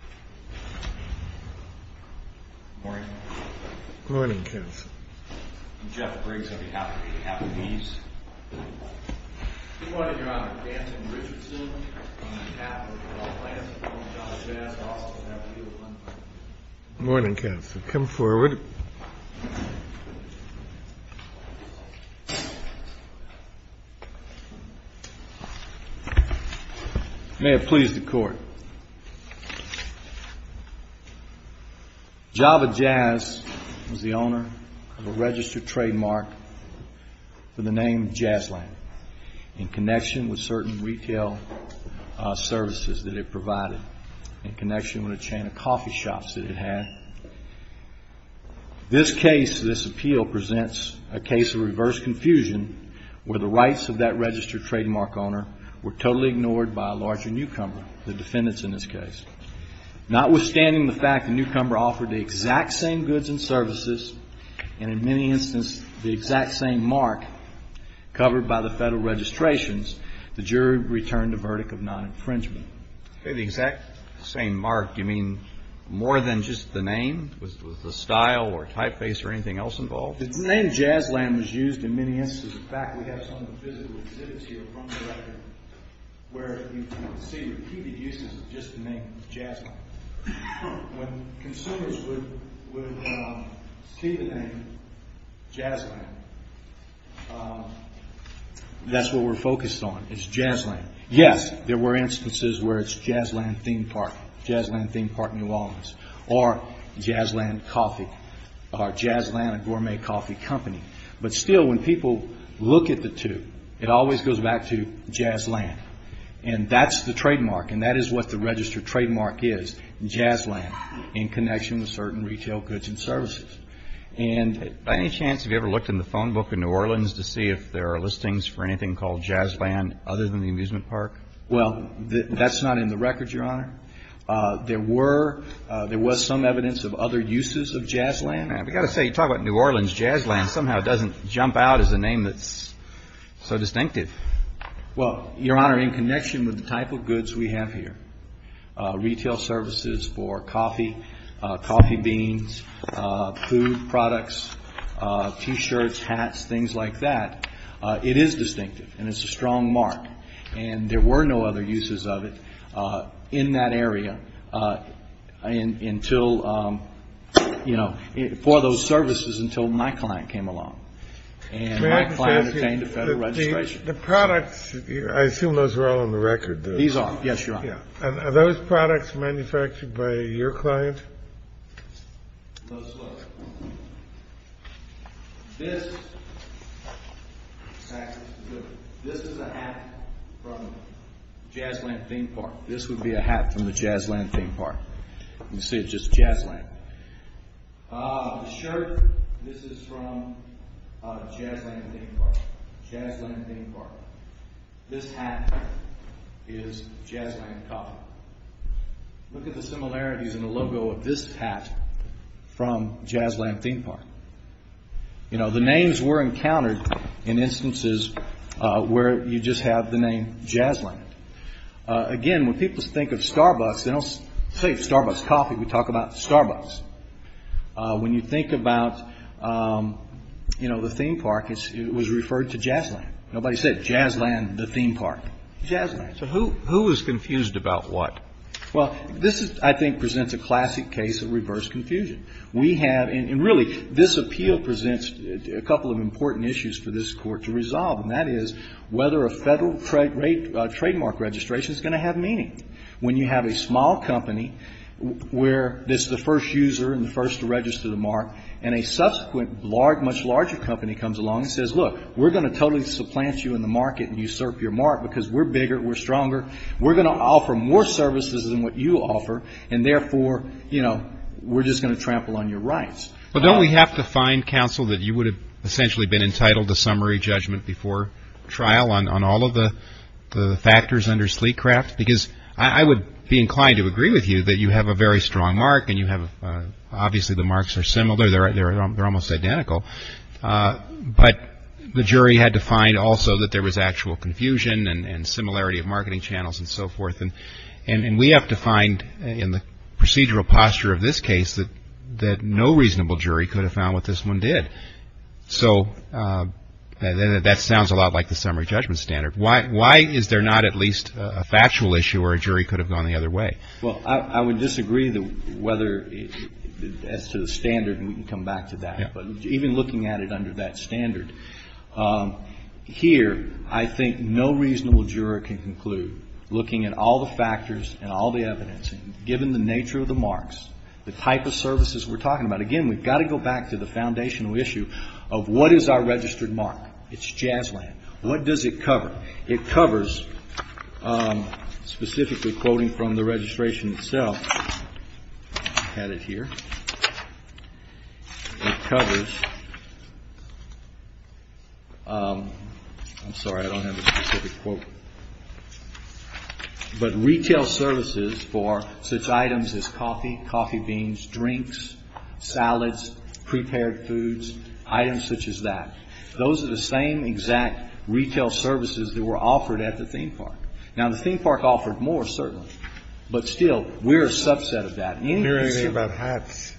Good morning. Good morning, Counsel. I'm Jeff Briggs, on behalf of Captain Eves. Good morning, Your Honor. Danton Richardson, on behalf of the law class of JAZZ, also happy to be with one of you. Good morning, Counsel. Come forward. May it please the Court. JAVA JAZZ was the owner of a registered trademark for the name JAZZLAND, in connection with certain retail services that it provided, in connection with a chain of coffee shops that it had. This case, this appeal, presents a case of reverse confusion, where the rights of that registered trademark owner were totally ignored by a larger newcomer, the defendants in this case. Notwithstanding the fact the newcomer offered the exact same goods and services, and in many instances the exact same mark covered by the Federal registrations, the jury returned the verdict of non-infringement. The exact same mark, do you mean more than just the name? Was the style or typeface or anything else involved? The name JAZZLAND was used in many instances. In fact, we have some of the physical exhibits here from the record where you can see repeated uses of just the name JAZZLAND. When consumers would see the name JAZZLAND, that's what we're focused on, is JAZZLAND. Yes, there were instances where it's JAZZLAND Theme Park, JAZZLAND Theme Park, New Orleans, or JAZZLAND Coffee, or JAZZLAND, a gourmet coffee company. But still, when people look at the two, it always goes back to JAZZLAND. And that's the trademark, and that is what the registered trademark is, JAZZLAND, in connection with certain retail goods and services. And by any chance have you ever looked in the phone book in New Orleans to see if there are listings for anything called JAZZLAND other than the amusement park? Well, that's not in the record, Your Honor. There were, there was some evidence of other uses of JAZZLAND. We've got to say, you talk about New Orleans, JAZZLAND, somehow it doesn't jump out as a name that's so distinctive. Well, Your Honor, in connection with the type of goods we have here, retail services for coffee, coffee beans, food products, T-shirts, hats, things like that, it is distinctive. And it's a strong mark. And there were no other uses of it in that area until, you know, for those services until my client came along. And my client obtained a federal registration. The products, I assume those are all on the record. These are, yes, Your Honor. Are those products manufactured by your client? Let's look. This is a hat from the JAZZLAND theme park. This would be a hat from the JAZZLAND theme park. You can see it's just JAZZLAND. The shirt, this is from JAZZLAND theme park. JAZZLAND theme park. This hat is JAZZLAND coffee. Look at the similarities in the logo of this hat from JAZZLAND theme park. You know, the names were encountered in instances where you just have the name JAZZLAND. Again, when people think of Starbucks, they don't say Starbucks coffee. We talk about Starbucks. When you think about, you know, the theme park, it was referred to JAZZLAND. Nobody said JAZZLAND the theme park. JAZZLAND. So who is confused about what? Well, this, I think, presents a classic case of reverse confusion. We have, and really, this appeal presents a couple of important issues for this Court to resolve, and that is whether a Federal trademark registration is going to have meaning. When you have a small company where it's the first user and the first to register the mark, and a subsequent much larger company comes along and says, look, we're going to totally supplant you in the market and usurp your mark because we're bigger, we're stronger, we're going to offer more services than what you offer, and therefore, you know, we're just going to trample on your rights. But don't we have to find counsel that you would have essentially been entitled to summary judgment before trial on all of the factors under Sleecraft? Because I would be inclined to agree with you that you have a very strong mark, and obviously the marks are similar, they're almost identical, but the jury had to find also that there was actual confusion and similarity of marketing channels and so forth, and we have to find in the procedural posture of this case that no reasonable jury could have found what this one did. So that sounds a lot like the summary judgment standard. Why is there not at least a factual issue where a jury could have gone the other way? Well, I would disagree whether as to the standard, and we can come back to that, but even looking at it under that standard, here I think no reasonable juror can conclude, looking at all the factors and all the evidence, given the nature of the marks, the type of services we're talking about. Again, we've got to go back to the foundational issue of what is our registered mark. It's Jazzland. What does it cover? It covers, specifically quoting from the registration itself, I've got it here. It covers, I'm sorry, I don't have a specific quote. But retail services for such items as coffee, coffee beans, drinks, salads, prepared foods, items such as that. Those are the same exact retail services that were offered at the theme park. Now, the theme park offered more, certainly, but still, we're a subset of that. Hearing about hats.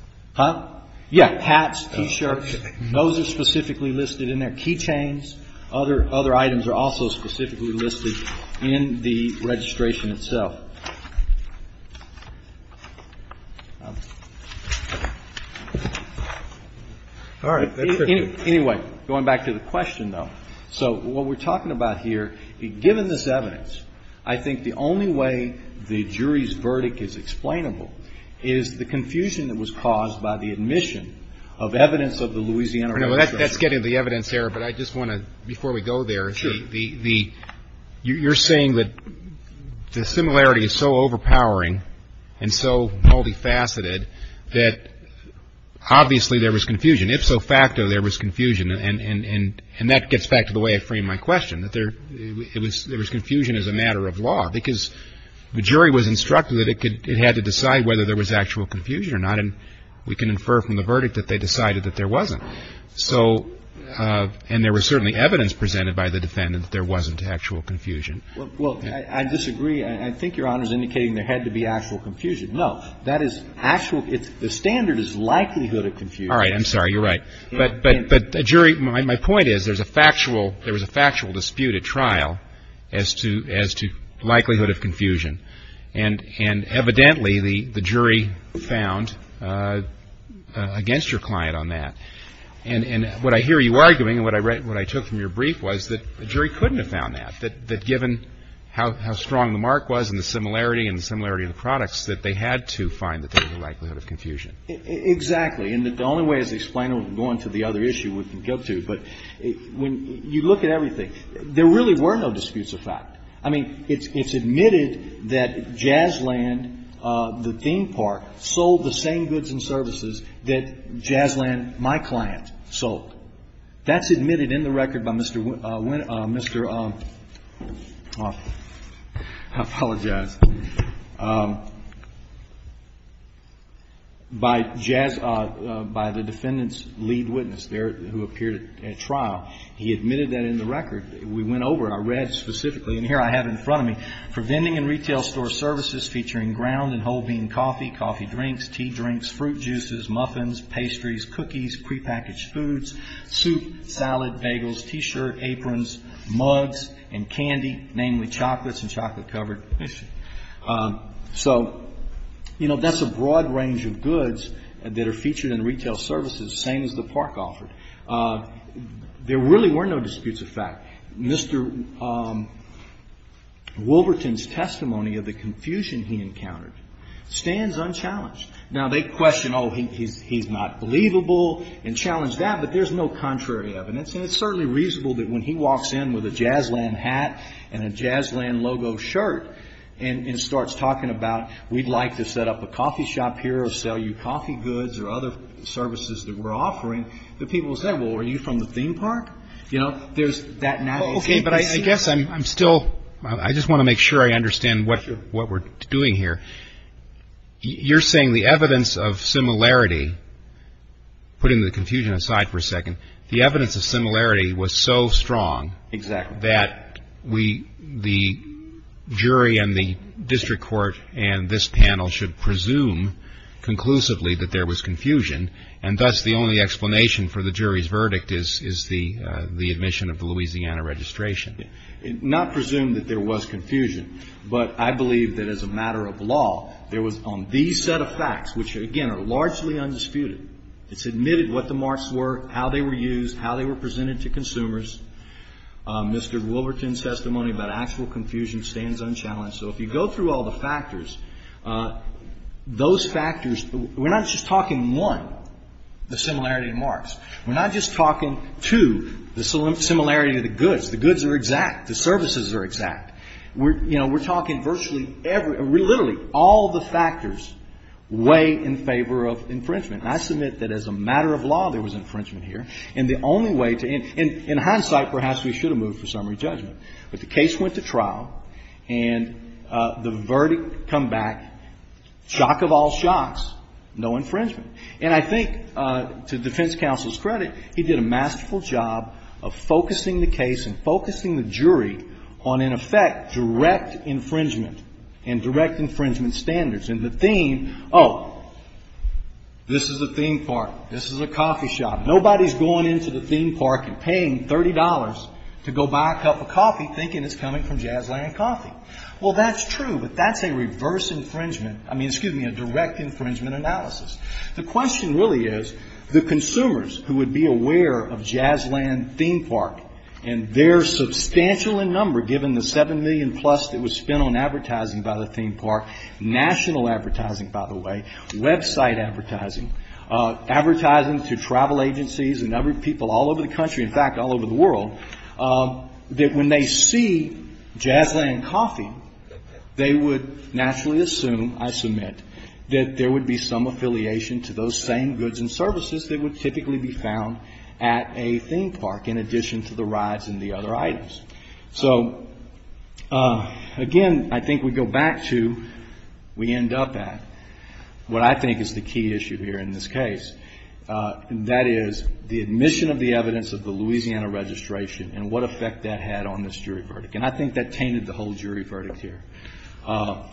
Yeah, hats, T-shirts, those are specifically listed in there. Key chains, other items are also specifically listed in the registration itself. All right. Anyway, going back to the question, though. So what we're talking about here, given this evidence, I think the only way the jury's verdict is explainable is the confusion that was caused by the admission of evidence of the Louisiana registration. That's getting to the evidence here, but I just want to, before we go there. Sure. You're saying that the similarity is so overpowering and so multifaceted that obviously there was confusion. If so facto, there was confusion. And that gets back to the way I framed my question, that there was confusion as a matter of law. Because the jury was instructed that it had to decide whether there was actual confusion or not, and we can infer from the verdict that they decided that there wasn't. So, and there was certainly evidence presented by the defendant that there wasn't actual confusion. Well, I disagree. I think Your Honor's indicating there had to be actual confusion. No, that is actual. The standard is likelihood of confusion. All right. I'm sorry. You're right. But the jury, my point is there was a factual dispute at trial as to likelihood of confusion. And evidently the jury found against your client on that. And what I hear you arguing and what I took from your brief was that the jury couldn't have found that, that given how strong the mark was and the similarity and the similarity of the products, that they had to find that there was a likelihood of confusion. Exactly. And the only way to explain it, going to the other issue, we can get to. But when you look at everything, there really were no disputes of fact. I mean, it's admitted that Jazzland, the theme park, sold the same goods and services that Jazzland, my client, sold. That's admitted in the record by Mr. Winn, Mr. I apologize, by Jazz, by the defendant's lead witness there who appeared at trial. He admitted that in the record. We went over it. I read specifically. And here I have in front of me, for vending and retail store services featuring ground and whole bean coffee, coffee drinks, tea drinks, fruit juices, muffins, pastries, cookies, prepackaged foods, soup, salad, bagels, T-shirt, aprons, mugs, and candy, namely chocolates and chocolate covered. So, you know, that's a broad range of goods that are featured in retail services, same as the park offered. There really were no disputes of fact. Mr. Wilberton's testimony of the confusion he encountered stands unchallenged. Now, they question, oh, he's not believable and challenge that, but there's no contrary evidence. And it's certainly reasonable that when he walks in with a Jazzland hat and a Jazzland logo shirt and starts talking about, we'd like to set up a coffee shop here or sell you coffee goods or other services that we're offering, that people will say, well, are you from the theme park? You know, there's that natural... Okay, but I guess I'm still, I just want to make sure I understand what we're doing here. You're saying the evidence of similarity, putting the confusion aside for a second, the evidence of similarity was so strong that the jury and the district court and this panel should presume conclusively that there was confusion. And thus the only explanation for the jury's verdict is the admission of the Louisiana registration. Not presume that there was confusion, but I believe that as a matter of law, there was on these set of facts, which again are largely undisputed, it's admitted what the marks were, how they were used, how they were presented to consumers. Mr. Wilberton's testimony about actual confusion stands unchallenged. So if you go through all the factors, those factors, we're not just talking, one, the similarity of marks. We're not just talking, two, the similarity of the goods. The goods are exact. The services are exact. You know, we're talking virtually every, literally all the factors weigh in favor of infringement. And I submit that as a matter of law, there was infringement here. And the only way to, in hindsight, perhaps we should have moved for summary judgment. But the case went to trial, and the verdict come back, shock of all shocks, no infringement. And I think to defense counsel's credit, he did a masterful job of focusing the case and focusing the jury on, in effect, direct infringement and direct infringement standards. And the theme, oh, this is a theme park. This is a coffee shop. Nobody's going into the theme park and paying $30 to go buy a cup of coffee thinking it's coming from Jazzland Coffee. Well, that's true, but that's a reverse infringement, I mean, excuse me, a direct infringement analysis. The question really is, the consumers who would be aware of Jazzland Theme Park and their substantial in number, given the $7 million plus that was spent on advertising by the theme park, national advertising, by the way, website advertising, advertising to travel agencies and other people all over the country, in fact, all over the world, that when they see Jazzland Coffee, they would naturally assume, I submit, that there would be some affiliation to those same goods and services that would typically be found at a theme park, in addition to the rides and the other items. So, again, I think we go back to, we end up at, what I think is the key issue here in this case. That is, the admission of the evidence of the Louisiana registration and what effect that had on this jury verdict. And I think that tainted the whole jury verdict here.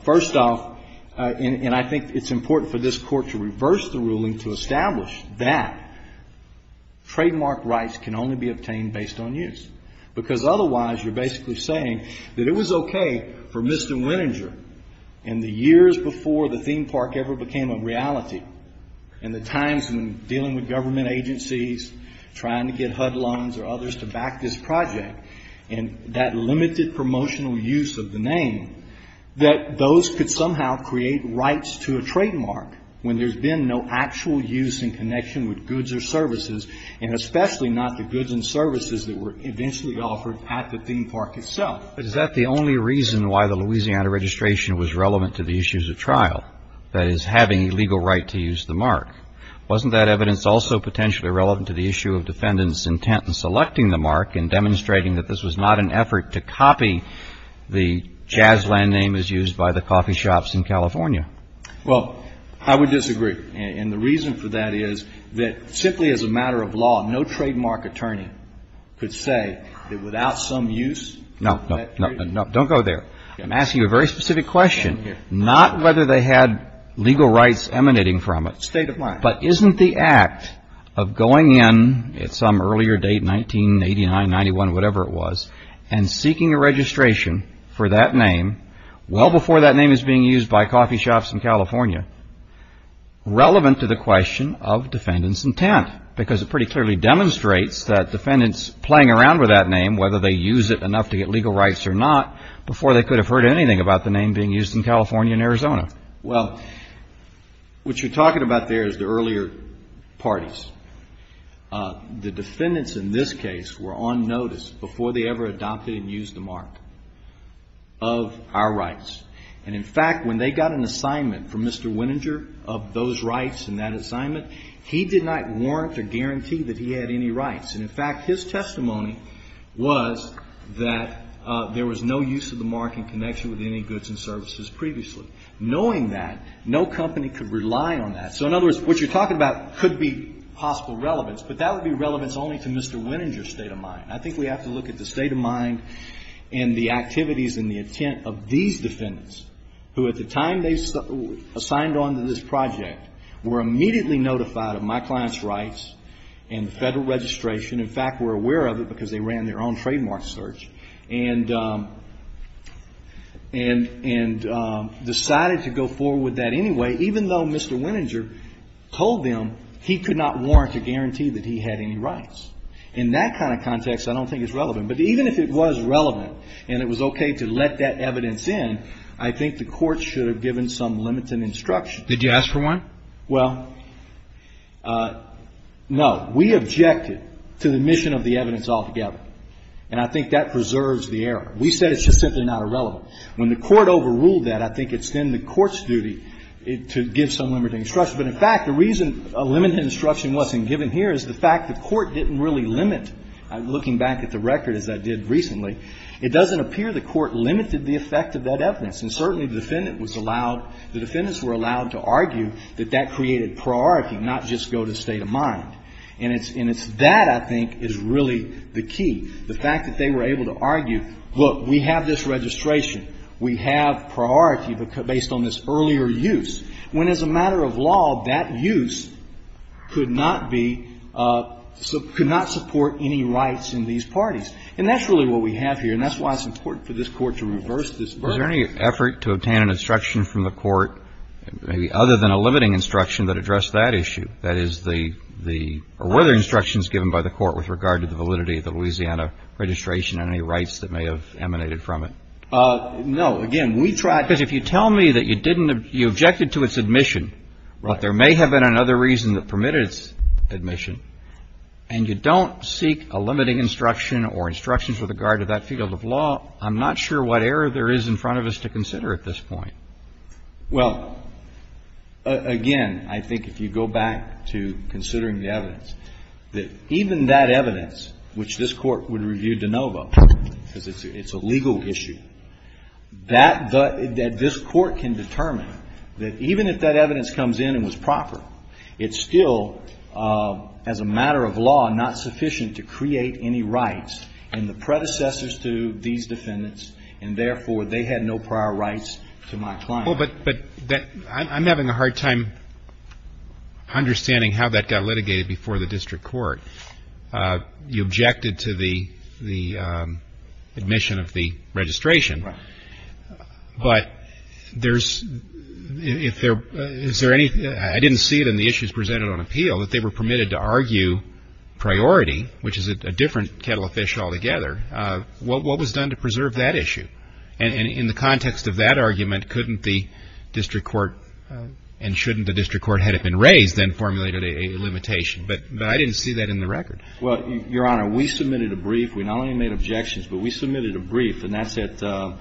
First off, and I think it's important for this Court to reverse the ruling to establish that trademark rights can only be obtained based on use. Because otherwise, you're basically saying that it was okay for Mr. Winninger, in the years before the theme park ever became a reality, in the times when dealing with government agencies, trying to get HUD loans or others to back this project, and that limited promotional use of the name, that those could somehow create rights to a trademark when there's been no actual use in connection with goods or services, and especially not the goods and services that were eventually offered at the theme park itself. But is that the only reason why the Louisiana registration was relevant to the issues of trial? That is, having a legal right to use the mark. Wasn't that evidence also potentially relevant to the issue of defendants' intent in selecting the mark and demonstrating that this was not an effort to copy the jazz land name as used by the coffee shops in California? Well, I would disagree. And the reason for that is that simply as a matter of law, no trademark attorney could say that without some use of that trademark. No, no, no. Don't go there. I'm asking you a very specific question, not whether they had legal rights emanating from it. It's state of mind. But isn't the act of going in at some earlier date, 1989, 91, whatever it was, and seeking a registration for that name well before that name is being used by coffee shops in California, relevant to the question of defendants' intent? Because it pretty clearly demonstrates that defendants playing around with that name, whether they use it enough to get legal rights or not, before they could have heard anything about the name being used in California and Arizona. Well, what you're talking about there is the earlier parties. The defendants in this case were on notice before they ever adopted and used the mark of our rights. And, in fact, when they got an assignment from Mr. Winninger of those rights in that assignment, he did not warrant or guarantee that he had any rights. And, in fact, his testimony was that there was no use of the mark in connection with any goods and services previously. Knowing that, no company could rely on that. So, in other words, what you're talking about could be possible relevance, but that would be relevance only to Mr. Winninger's state of mind. I think we have to look at the state of mind and the activities and the intent of these defendants, who, at the time they signed on to this project, were immediately notified of my client's rights and federal registration. In fact, were aware of it because they ran their own trademark search and decided to go forward with that anyway, even though Mr. Winninger told them he could not warrant or guarantee that he had any rights. In that kind of context, I don't think it's relevant. But even if it was relevant and it was okay to let that evidence in, I think the Court should have given some limited instruction. Did you ask for one? Well, no. We objected to the mission of the evidence altogether. And I think that preserves the error. We said it's just simply not irrelevant. When the Court overruled that, I think it's then the Court's duty to give some limited instruction. But in fact, the reason a limited instruction wasn't given here is the fact the Court didn't really limit. Looking back at the record, as I did recently, it doesn't appear the Court limited the effect of that evidence. And certainly the defendant was allowed, the defendants were allowed to argue that that created priority, not just go to state of mind. And it's that, I think, is really the key. The fact that they were able to argue, look, we have this registration, we have priority based on this earlier use. When as a matter of law, that use could not be, could not support any rights in these parties. And that's really what we have here, and that's why it's important for this Court to reverse this verdict. Was there any effort to obtain an instruction from the Court, maybe other than a limiting instruction, that addressed that issue? That is the, the, or were there instructions given by the Court with regard to the validity of the Louisiana registration and any rights that may have emanated from it? No. Again, we tried. Because if you tell me that you didn't, you objected to its admission, but there may have been another reason that permitted its admission, and you don't seek a limiting instruction or instructions with regard to that field of law, I'm not sure what error there is in front of us to consider at this point. Well, again, I think if you go back to considering the evidence, that even that evidence, which this Court would review de novo, because it's a legal issue, that this Court can determine that even if that evidence comes in and was proper, it's still, as a matter of law, not sufficient to create any rights in the predecessors to these defendants, and therefore they had no prior rights to my client. Well, but I'm having a hard time understanding how that got litigated before the District Court. You objected to the admission of the registration. Right. But there's, is there any, I didn't see it in the issues presented on appeal, that they were permitted to argue priority, which is a different kettle of fish altogether, what was done to preserve that issue? And in the context of that argument, couldn't the District Court, and shouldn't the District Court had it been raised and formulated a limitation? But I didn't see that in the record. Well, Your Honor, we submitted a brief. We not only made objections, but we submitted a brief, and that's at the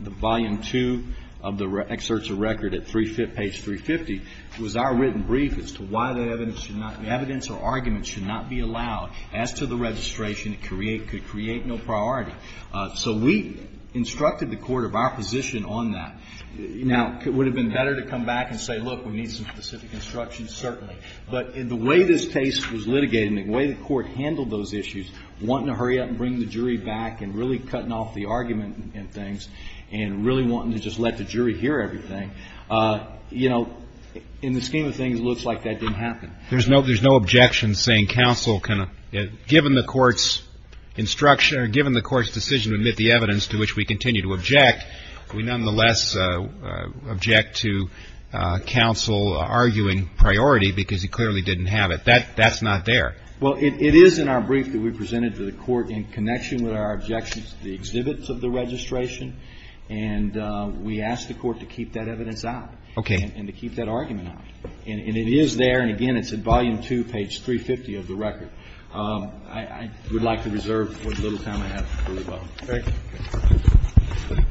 volume two of the excerpts of record at page 350. It was our written brief as to why the evidence should not, evidence or argument should not be allowed. As to the registration, it could create no priority. So we instructed the Court of our position on that. Now, it would have been better to come back and say, look, we need some specific instructions, certainly. But in the way this case was litigated and the way the Court handled those issues, wanting to hurry up and bring the jury back and really cutting off the argument and things, and really wanting to just let the jury hear everything, you know, in the scheme of things, it looks like that didn't happen. There's no objection saying counsel can, given the Court's instruction or given the Court's decision to admit the evidence to which we continue to object, we nonetheless object to counsel arguing priority because he clearly didn't have it. That's not there. Well, it is in our brief that we presented to the Court in connection with our objections to the exhibits of the registration. And we asked the Court to keep that evidence out. Okay. And to keep that argument out. And it is there. And, again, it's at volume two, page 350 of the record. I would like to reserve for the little time I have for rebuttal. Thank you.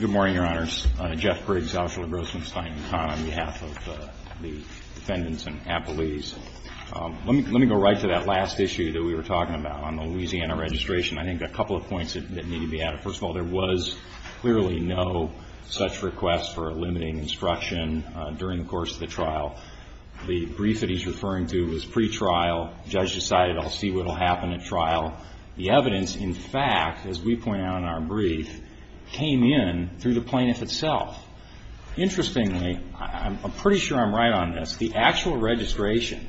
Good morning, Your Honors. I'm Jeff Briggs, Officer LaGrossman, Stein and Kahn, on behalf of the defendants and appellees. Let me go right to that last issue that we were talking about on the Louisiana registration. I think a couple of points that need to be added. First of all, there was clearly no such request for a limiting instruction during the course of the trial. The brief that he's referring to was pretrial. The judge decided, I'll see what will happen at trial. The evidence, in fact, as we point out in our brief, came in through the plaintiff itself. Interestingly, I'm pretty sure I'm right on this. The actual registration,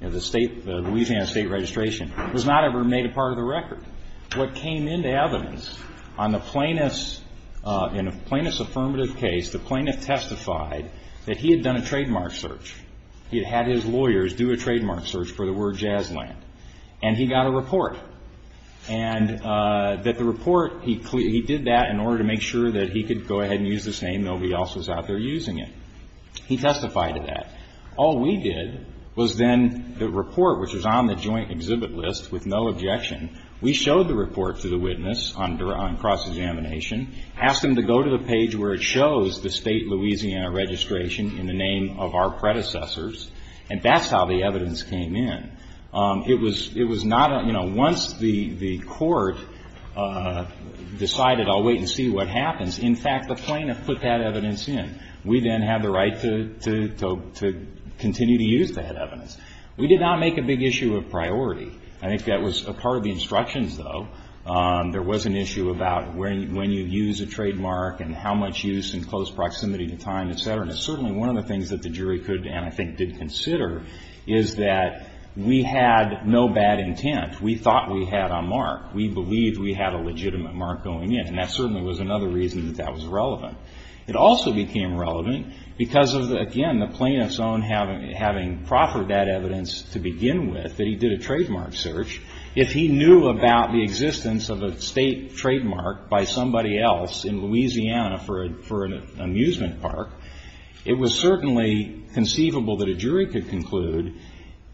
the Louisiana State registration, was not ever made a part of the record. What came into evidence on the plaintiff's affirmative case, the plaintiff testified that he had done a trademark search. He had had his lawyers do a trademark search for the word jazzland. And he got a report. And that the report, he did that in order to make sure that he could go ahead and use this name. Nobody else was out there using it. He testified to that. All we did was then the report, which was on the joint exhibit list with no objection, we showed the report to the witness on cross-examination, asked them to go to the page where it shows the state Louisiana registration in the name of our predecessors, and that's how the evidence came in. It was not a, you know, once the court decided, I'll wait and see what happens, in fact, the plaintiff put that evidence in. We then have the right to continue to use that evidence. We did not make a big issue of priority. I think that was a part of the instructions, though. There was an issue about when you use a trademark and how much use in close proximity to time, et cetera. And certainly one of the things that the jury could and I think did consider is that we had no bad intent. We thought we had a mark. We believed we had a legitimate mark going in. And that certainly was another reason that that was relevant. It also became relevant because of, again, the plaintiff's own having proper that evidence to begin with, that he did a trademark search. If he knew about the existence of a state trademark by somebody else in Louisiana for an amusement park, it was certainly conceivable that a jury could conclude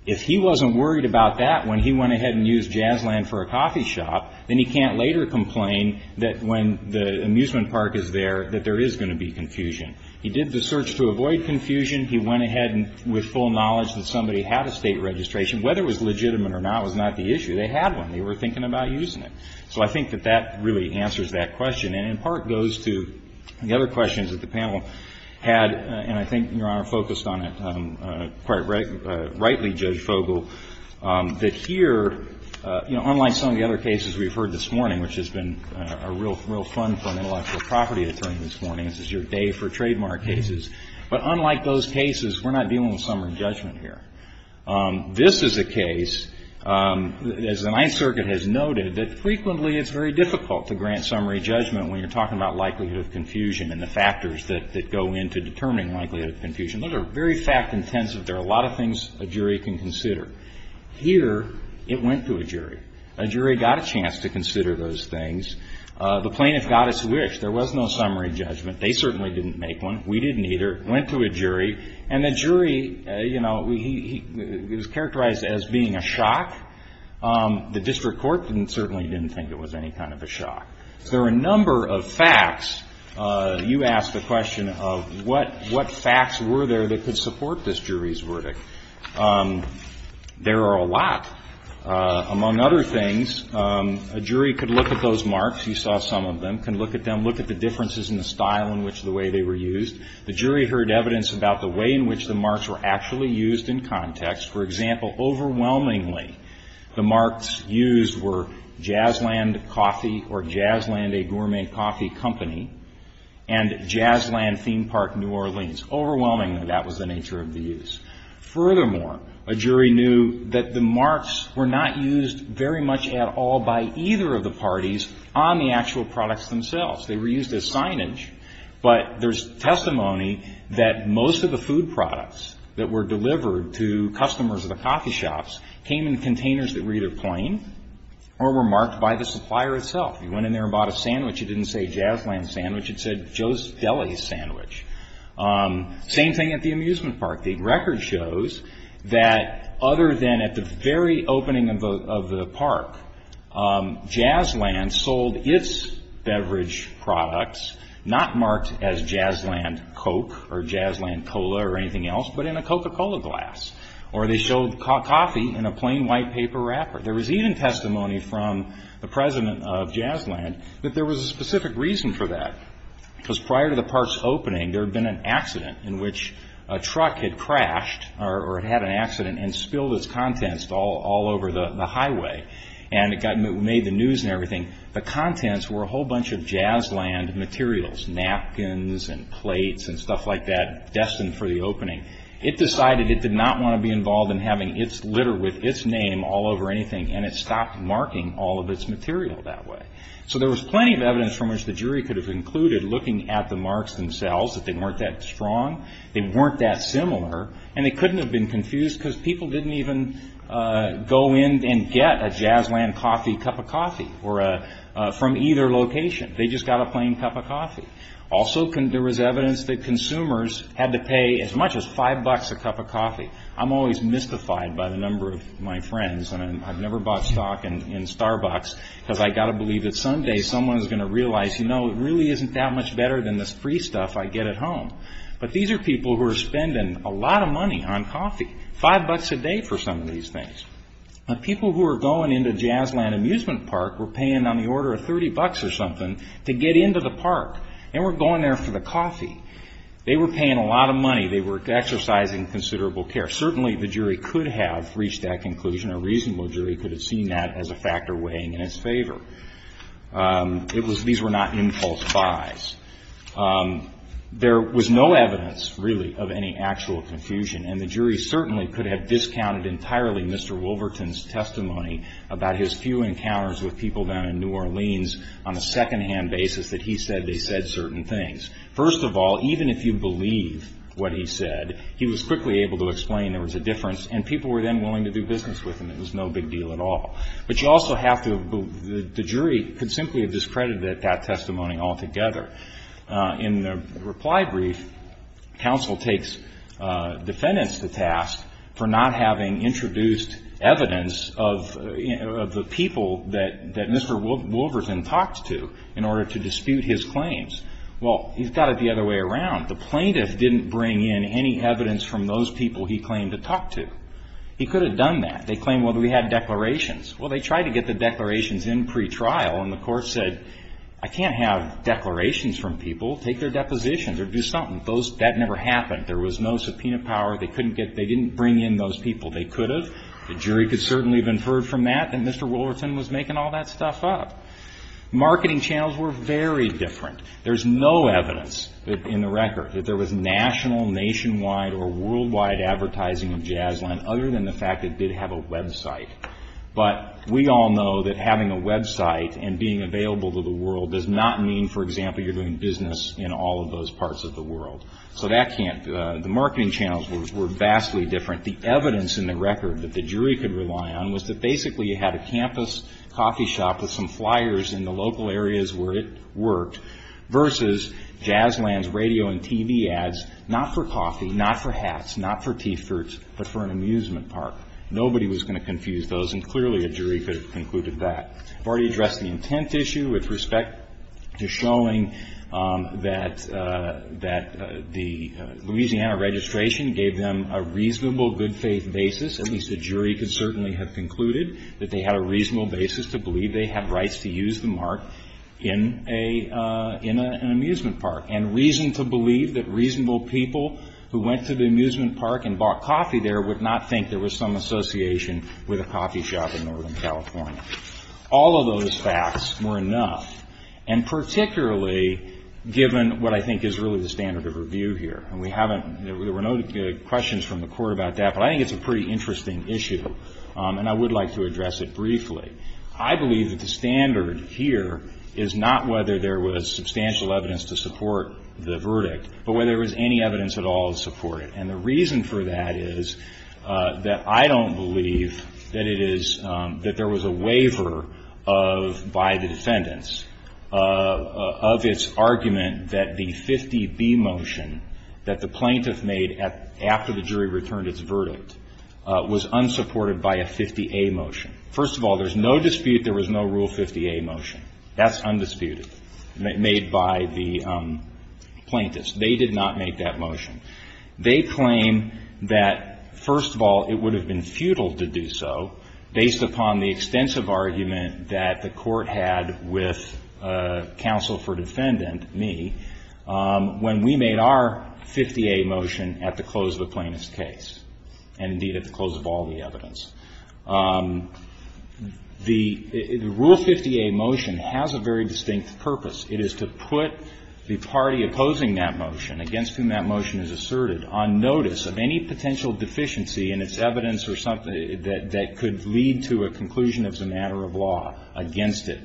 if he wasn't worried about that when he went ahead and used Jazzland for a coffee shop, then he can't later complain that when the amusement park is there that there is going to be confusion. He did the search to avoid confusion. He went ahead with full knowledge that somebody had a state registration. Whether it was legitimate or not was not the issue. They had one. They were thinking about using it. So I think that that really answers that question. And in part goes to the other questions that the panel had, and I think, Your Honor, focused on it quite rightly, Judge Fogel, that here, you know, unlike some of the other cases we've heard this morning, which has been a real fun for an intellectual property attorney this morning, this is your day for trademark cases. But unlike those cases, we're not dealing with summary judgment here. This is a case, as the Ninth Circuit has noted, that frequently it's very difficult to grant summary judgment when you're talking about likelihood of confusion and the factors that go into determining likelihood of confusion. Those are very fact-intensive. There are a lot of things a jury can consider. Here, it went to a jury. A jury got a chance to consider those things. The plaintiff got its wish. There was no summary judgment. They certainly didn't make one. We didn't either. It went to a jury, and the jury, you know, he was characterized as being a shock. The district court certainly didn't think it was any kind of a shock. There were a number of facts. You asked the question of what facts were there that could support this jury's verdict. There are a lot. Among other things, a jury could look at those marks. You saw some of them. Can look at them, look at the differences in the style in which the way they were used. The jury heard evidence about the way in which the marks were actually used in context. For example, overwhelmingly, the marks used were Jazland Coffee or Jazland, a gourmet coffee company, and Jazland Theme Park, New Orleans. Overwhelmingly, that was the nature of the use. Furthermore, a jury knew that the marks were not used very much at all by either of the parties on the actual products themselves. They were used as signage, but there's testimony that most of the food products that were delivered to customers of the coffee shops came in containers that were either plain or were marked by the supplier itself. You went in there and bought a sandwich. It didn't say Jazland Sandwich. It said Joe's Deli Sandwich. Same thing at the amusement park. The record shows that other than at the very opening of the park, Jazland sold its beverage products not marked as Jazland Coke or Jazland Cola or anything else, but in a Coca-Cola glass, or they showed coffee in a plain white paper wrapper. There was even testimony from the president of Jazland that there was a specific reason for that, because prior to the park's opening, there had been an accident in which a truck had crashed or had an accident and spilled its contents all over the highway, and it made the news and everything. The contents were a whole bunch of Jazland materials, napkins and plates and stuff like that, destined for the opening. It decided it did not want to be involved in having its litter with its name all over anything, and it stopped marking all of its material that way. So there was plenty of evidence from which the jury could have concluded, looking at the marks themselves, that they weren't that strong, they weren't that similar, and they couldn't have been confused, because people didn't even go in and get a Jazland coffee cup of coffee from either location. They just got a plain cup of coffee. Also, there was evidence that consumers had to pay as much as five bucks a cup of coffee. I'm always mystified by the number of my friends, and I've never bought stock in Starbucks, because I've got to believe that someday someone is going to realize, you know, it really isn't that much better than this free stuff I get at home. But these are people who are spending a lot of money on coffee, five bucks a day for some of these things. People who are going into Jazland Amusement Park were paying on the order of 30 bucks or something to get into the park, and were going there for the coffee. They were paying a lot of money. They were exercising considerable care. Certainly, the jury could have reached that conclusion. A reasonable jury could have seen that as a factor weighing in its favor. These were not impulse buys. There was no evidence, really, of any actual confusion, and the jury certainly could have discounted entirely Mr. Wolverton's testimony about his few encounters with people down in New Orleans on a secondhand basis that he said they said certain things. First of all, even if you believe what he said, he was quickly able to explain there was a difference, and people were then willing to do business with him. It was no big deal at all. But you also have to, the jury could simply have discredited that testimony altogether. In the reply brief, counsel takes defendants to task for not having introduced evidence of the people that Mr. Wolverton talked to in order to dispute his claims. Well, he's got it the other way around. The plaintiff didn't bring in any evidence from those people he claimed to talk to. He could have done that. They claimed, well, they had declarations. Well, they tried to get the declarations in pretrial, and the court said, I can't have declarations from people. Take their depositions or do something. That never happened. There was no subpoena power. They didn't bring in those people. They could have. The jury could certainly have inferred from that that Mr. Wolverton was making all that stuff up. Marketing channels were very different. There's no evidence in the record that there was national, nationwide, or worldwide advertising of Jazzline other than the fact it did have a website. But we all know that having a website and being available to the world does not mean, for example, you're doing business in all of those parts of the world. So that can't, the marketing channels were vastly different. The evidence in the record that the jury could rely on was that basically you had a campus coffee shop with some flyers in the local areas where it worked versus Jazzline's radio and TV ads, not for coffee, not for hats, not for T-shirts, but for an amusement park. Nobody was going to confuse those, and clearly a jury could have concluded that. I've already addressed the intent issue with respect to showing that the Louisiana registration gave them a reasonable, good faith basis, at least a jury could certainly have concluded that they had a reasonable basis to believe they had rights to use the mark in an amusement park, and reason to believe that reasonable people who went to the amusement park and bought coffee there would not think there was some association with a coffee shop in Northern California. All of those facts were enough, and particularly given what I think is really the standard of review here, and we haven't, there were no questions from the court about that, but I think it's a pretty interesting issue, and I would like to address it briefly. I believe that the standard here is not whether there was substantial evidence to support the verdict, but whether there was any evidence at all to support it, and the reason for that is that I don't believe that there was a waiver by the defendants of its argument that the 50B motion that the plaintiff made after the jury returned its verdict was unsupported by a 50A motion. First of all, there's no dispute there was no Rule 50A motion. That's undisputed, made by the plaintiffs. They did not make that motion. They claim that, first of all, it would have been futile to do so based upon the extensive argument that the court had with counsel for defendant, me, when we made our 50A motion at the close of the plaintiff's case, and indeed at the close of all the evidence. The Rule 50A motion has a very distinct purpose. It is to put the party opposing that motion, against whom that motion is asserted, on notice of any potential deficiency in its evidence or something that could lead to a conclusion as a matter of law against it.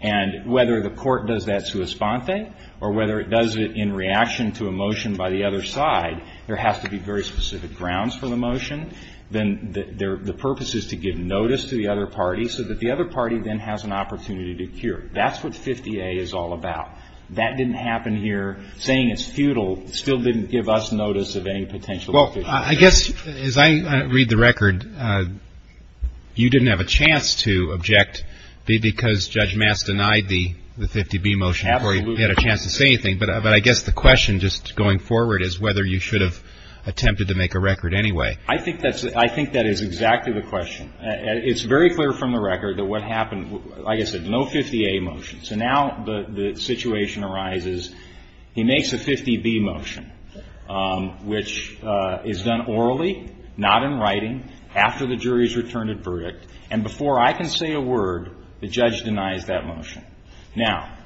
And whether the court does that sua sponte, or whether it does it in reaction to a motion by the other side, there has to be very specific grounds for the motion. Then the purpose is to give notice to the other party so that the other party then has an opportunity to cure. That's what 50A is all about. That didn't happen here. Saying it's futile still didn't give us notice of any potential deficiency. Well, I guess as I read the record, you didn't have a chance to object, because Judge Mass denied the 50B motion before you had a chance to say anything. But I guess the question just going forward is whether you should have attempted to make a record anyway. I think that is exactly the question. It's very clear from the record that what happened, like I said, no 50A motion. So now the situation arises, he makes a 50B motion, which is done orally, not in writing, after the jury's returned a verdict, and before I can say a word, the judge denies that motion. Now,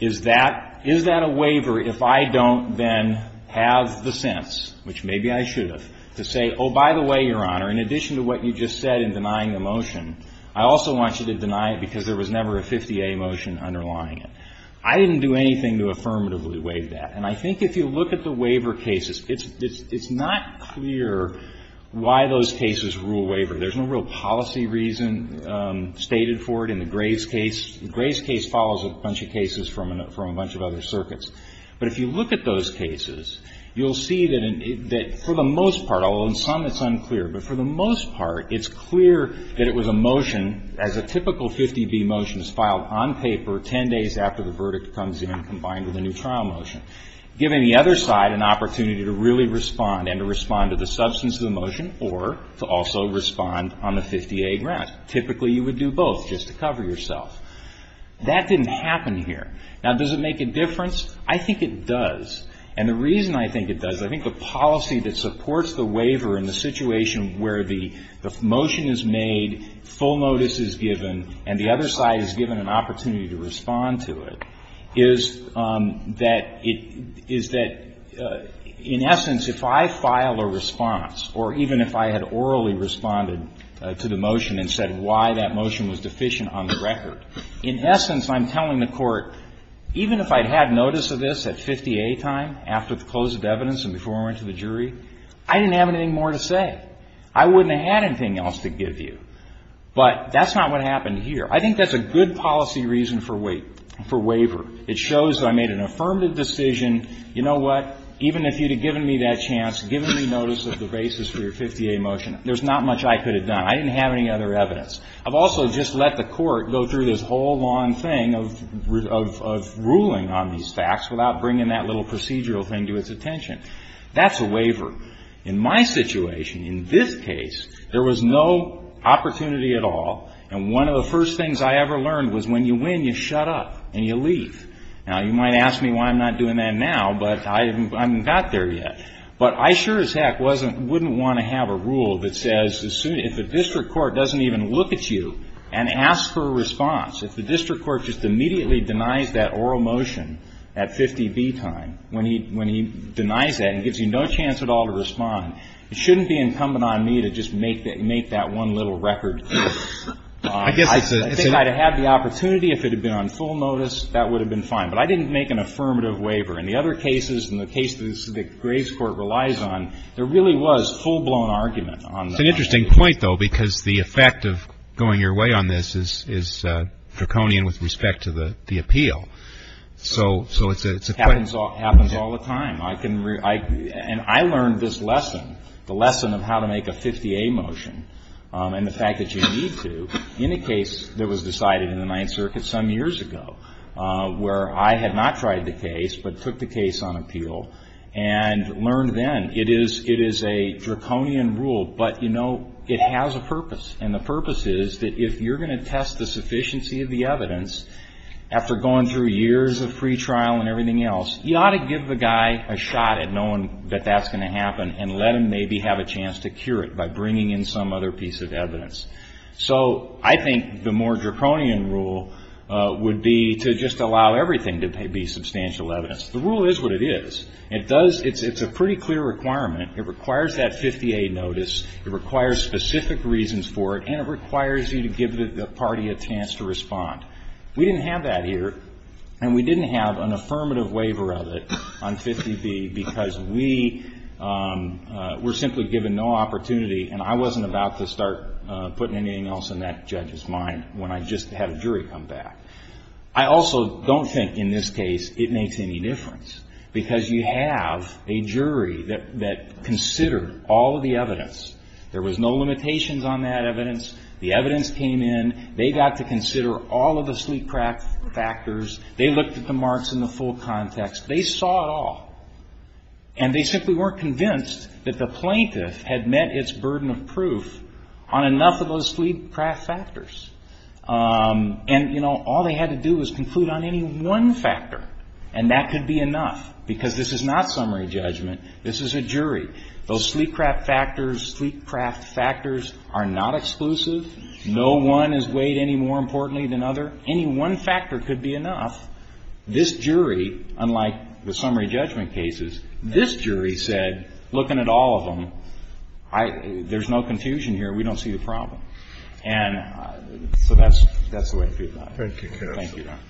is that a waiver if I don't then have the sense, which maybe I should have, to say, oh, by the way, Your Honor, in addition to what you just said in denying the motion, I also want you to deny it because there was never a 50A motion underlying it. I didn't do anything to affirmatively waive that. And I think if you look at the waiver cases, it's not clear why those cases rule waiver. There's no real policy reason stated for it in the Graves case. The Graves case follows a bunch of cases from a bunch of other circuits. But if you look at those cases, you'll see that for the most part, although in some it's unclear, but for the most part it's clear that it was a motion, as a typical 50B motion is filed on paper 10 days after the verdict comes in, combined with a new trial motion, giving the other side an opportunity to really respond and to respond to the substance of the motion or to also respond on the 50A grounds. Typically, you would do both just to cover yourself. That didn't happen here. Now, does it make a difference? I think it does. And the reason I think it does, I think the policy that supports the waiver in the situation where the motion is made, full notice is given, and the other side is given an opportunity to respond to it, is that it is that, in essence, if I file a response or even if I had orally responded to the motion and said why that motion was deficient on the record, in essence, I'm telling the Court, even if I had notice of this at 50A time, after the close of evidence and before I went to the jury, I didn't have anything more to say. I wouldn't have had anything else to give you. But that's not what happened here. I think that's a good policy reason for waiver. It shows that I made an affirmative decision. You know what? Even if you had given me that chance, given me notice of the basis for your 50A motion, there's not much I could have done. I didn't have any other evidence. I've also just let the Court go through this whole long thing of ruling on these facts without bringing that little procedural thing to its attention. That's a waiver. In my situation, in this case, there was no opportunity at all, and one of the first things I ever learned was when you win, you shut up and you leave. Now, you might ask me why I'm not doing that now, but I haven't got there yet. But I sure as heck wouldn't want to have a rule that says if the district court doesn't even look at you and ask for a response, if the district court just immediately denies that oral motion at 50B time, when he denies that and gives you no chance at all to respond, it shouldn't be incumbent on me to just make that one little record. I think I'd have had the opportunity if it had been on full notice. That would have been fine. But I didn't make an affirmative waiver. In the other cases, in the cases that Graves Court relies on, there really was full-blown argument on that. It's an interesting point, though, because the effect of going your way on this is draconian with respect to the appeal. So it's a question. It happens all the time. And I learned this lesson, the lesson of how to make a 50A motion and the fact that you need to in a case that was decided in the Ninth Circuit some years ago where I had not tried the case but took the case on appeal and learned then it is a draconian rule, but, you know, it has a purpose. And the purpose is that if you're going to test the sufficiency of the evidence after going through years of free trial and everything else, you ought to give the guy a shot at knowing that that's going to happen and let him maybe have a chance to cure it by bringing in some other piece of evidence. So I think the more draconian rule would be to just allow everything to be substantial evidence. The rule is what it is. It's a pretty clear requirement. It requires that 50A notice. It requires specific reasons for it. And it requires you to give the party a chance to respond. We didn't have that here, and we didn't have an affirmative waiver of it on 50B because we were simply given no opportunity, and I wasn't about to start putting anything else in that judge's mind when I just had a jury come back. I also don't think in this case it makes any difference because you have a jury that considered all of the evidence. There was no limitations on that evidence. The evidence came in. They got to consider all of the sleep craft factors. They looked at the marks in the full context. They saw it all. And they simply weren't convinced that the plaintiff had met its burden of proof on enough of those sleep craft factors. And, you know, all they had to do was conclude on any one factor, and that could be enough because this is not summary judgment. This is a jury. Those sleep craft factors, sleep craft factors are not exclusive. No one is weighed any more importantly than other. Any one factor could be enough. This jury, unlike the summary judgment cases, this jury said, looking at all of them, there's no confusion here. We don't see the problem. And so that's the way I feel about it. Thank you, counsel. Thank you, Your Honor.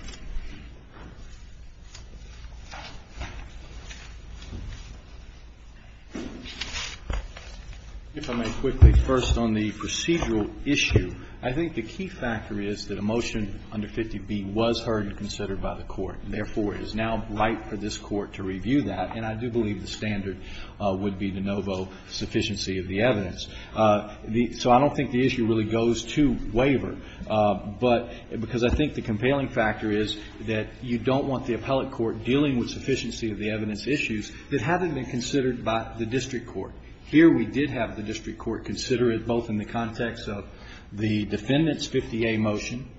If I may quickly, first on the procedural issue, I think the key factor is that a motion under 50B was heard and considered by the Court, and therefore it is now right for this Court to review that. And I do believe the standard would be de novo sufficiency of the evidence. So I don't think the issue really goes to waiver. But because I think the compelling factor is that you don't want the appellate court dealing with sufficiency of the evidence issues that haven't been considered by the district court. Here we did have the district court consider it, both in the context of the Defendant's 50A motion,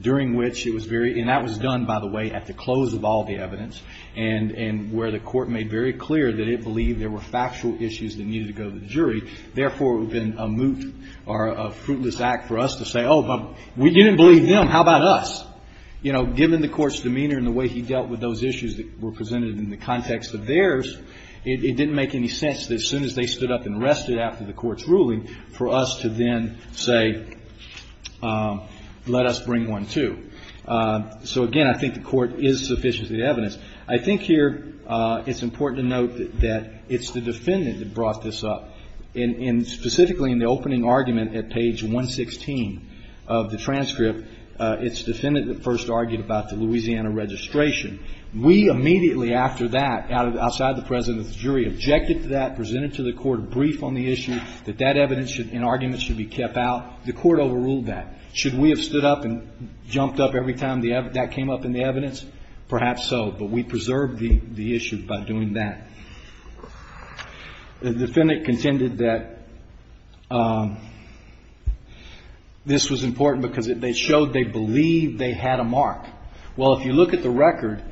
during which it was very – and that was done, by the way, at the close of all the evidence, and where the Court made very clear that it believed there were factual issues that needed to go to the jury. Therefore, it would have been a moot or a fruitless act for us to say, oh, but we didn't believe them. How about us? You know, given the Court's demeanor and the way he dealt with those issues that were presented in the context of theirs, it didn't make any sense that as soon as they stood up and rested after the Court's ruling for us to then say, let us bring one, too. So, again, I think the Court is sufficiency of the evidence. I think here it's important to note that it's the Defendant that brought this up. And specifically in the opening argument at page 116 of the transcript, it's the Defendant that first argued about the Louisiana registration. We immediately after that, outside the President's jury, objected to that, presented to the Court a brief on the issue, that that evidence and argument should be kept out. The Court overruled that. Should we have stood up and jumped up every time that came up in the evidence? Perhaps so. But we preserved the issue by doing that. The Defendant contended that this was important because it showed they believed they had a mark. Well, if you look at the record,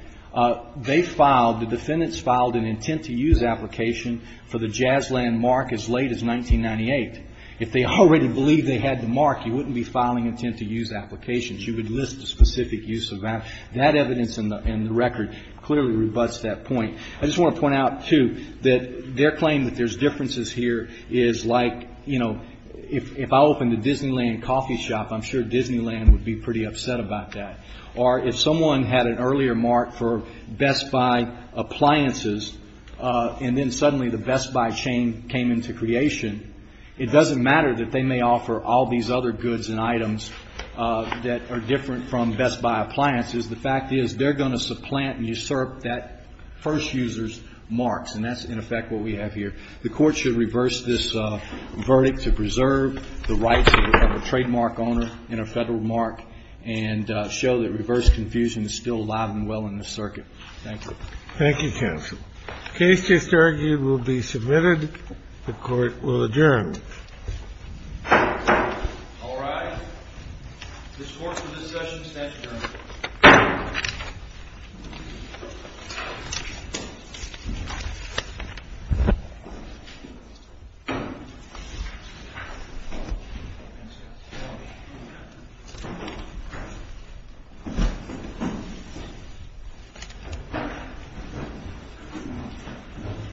they filed, the Defendants filed an intent-to-use application for the Jazzland mark as late as 1998. If they already believed they had the mark, you wouldn't be filing intent-to-use applications. You would list the specific use of that. That evidence in the record clearly rebutts that point. I just want to point out, too, that their claim that there's differences here is like, you know, if I opened a Disneyland coffee shop, I'm sure Disneyland would be pretty upset about that. Or if someone had an earlier mark for Best Buy appliances, and then suddenly the Best Buy chain came into creation, it doesn't matter that they may offer all these other goods and items that are different from Best Buy appliances. The fact is they're going to supplant and usurp that first user's marks. And that's, in effect, what we have here. The Court should reverse this verdict to preserve the rights of a trademark owner in a Federal mark and show that reverse confusion is still alive and well in this circuit. Thank you. Thank you, counsel. The case just argued will be submitted. The Court will adjourn. All right. This court's discussion is adjourned.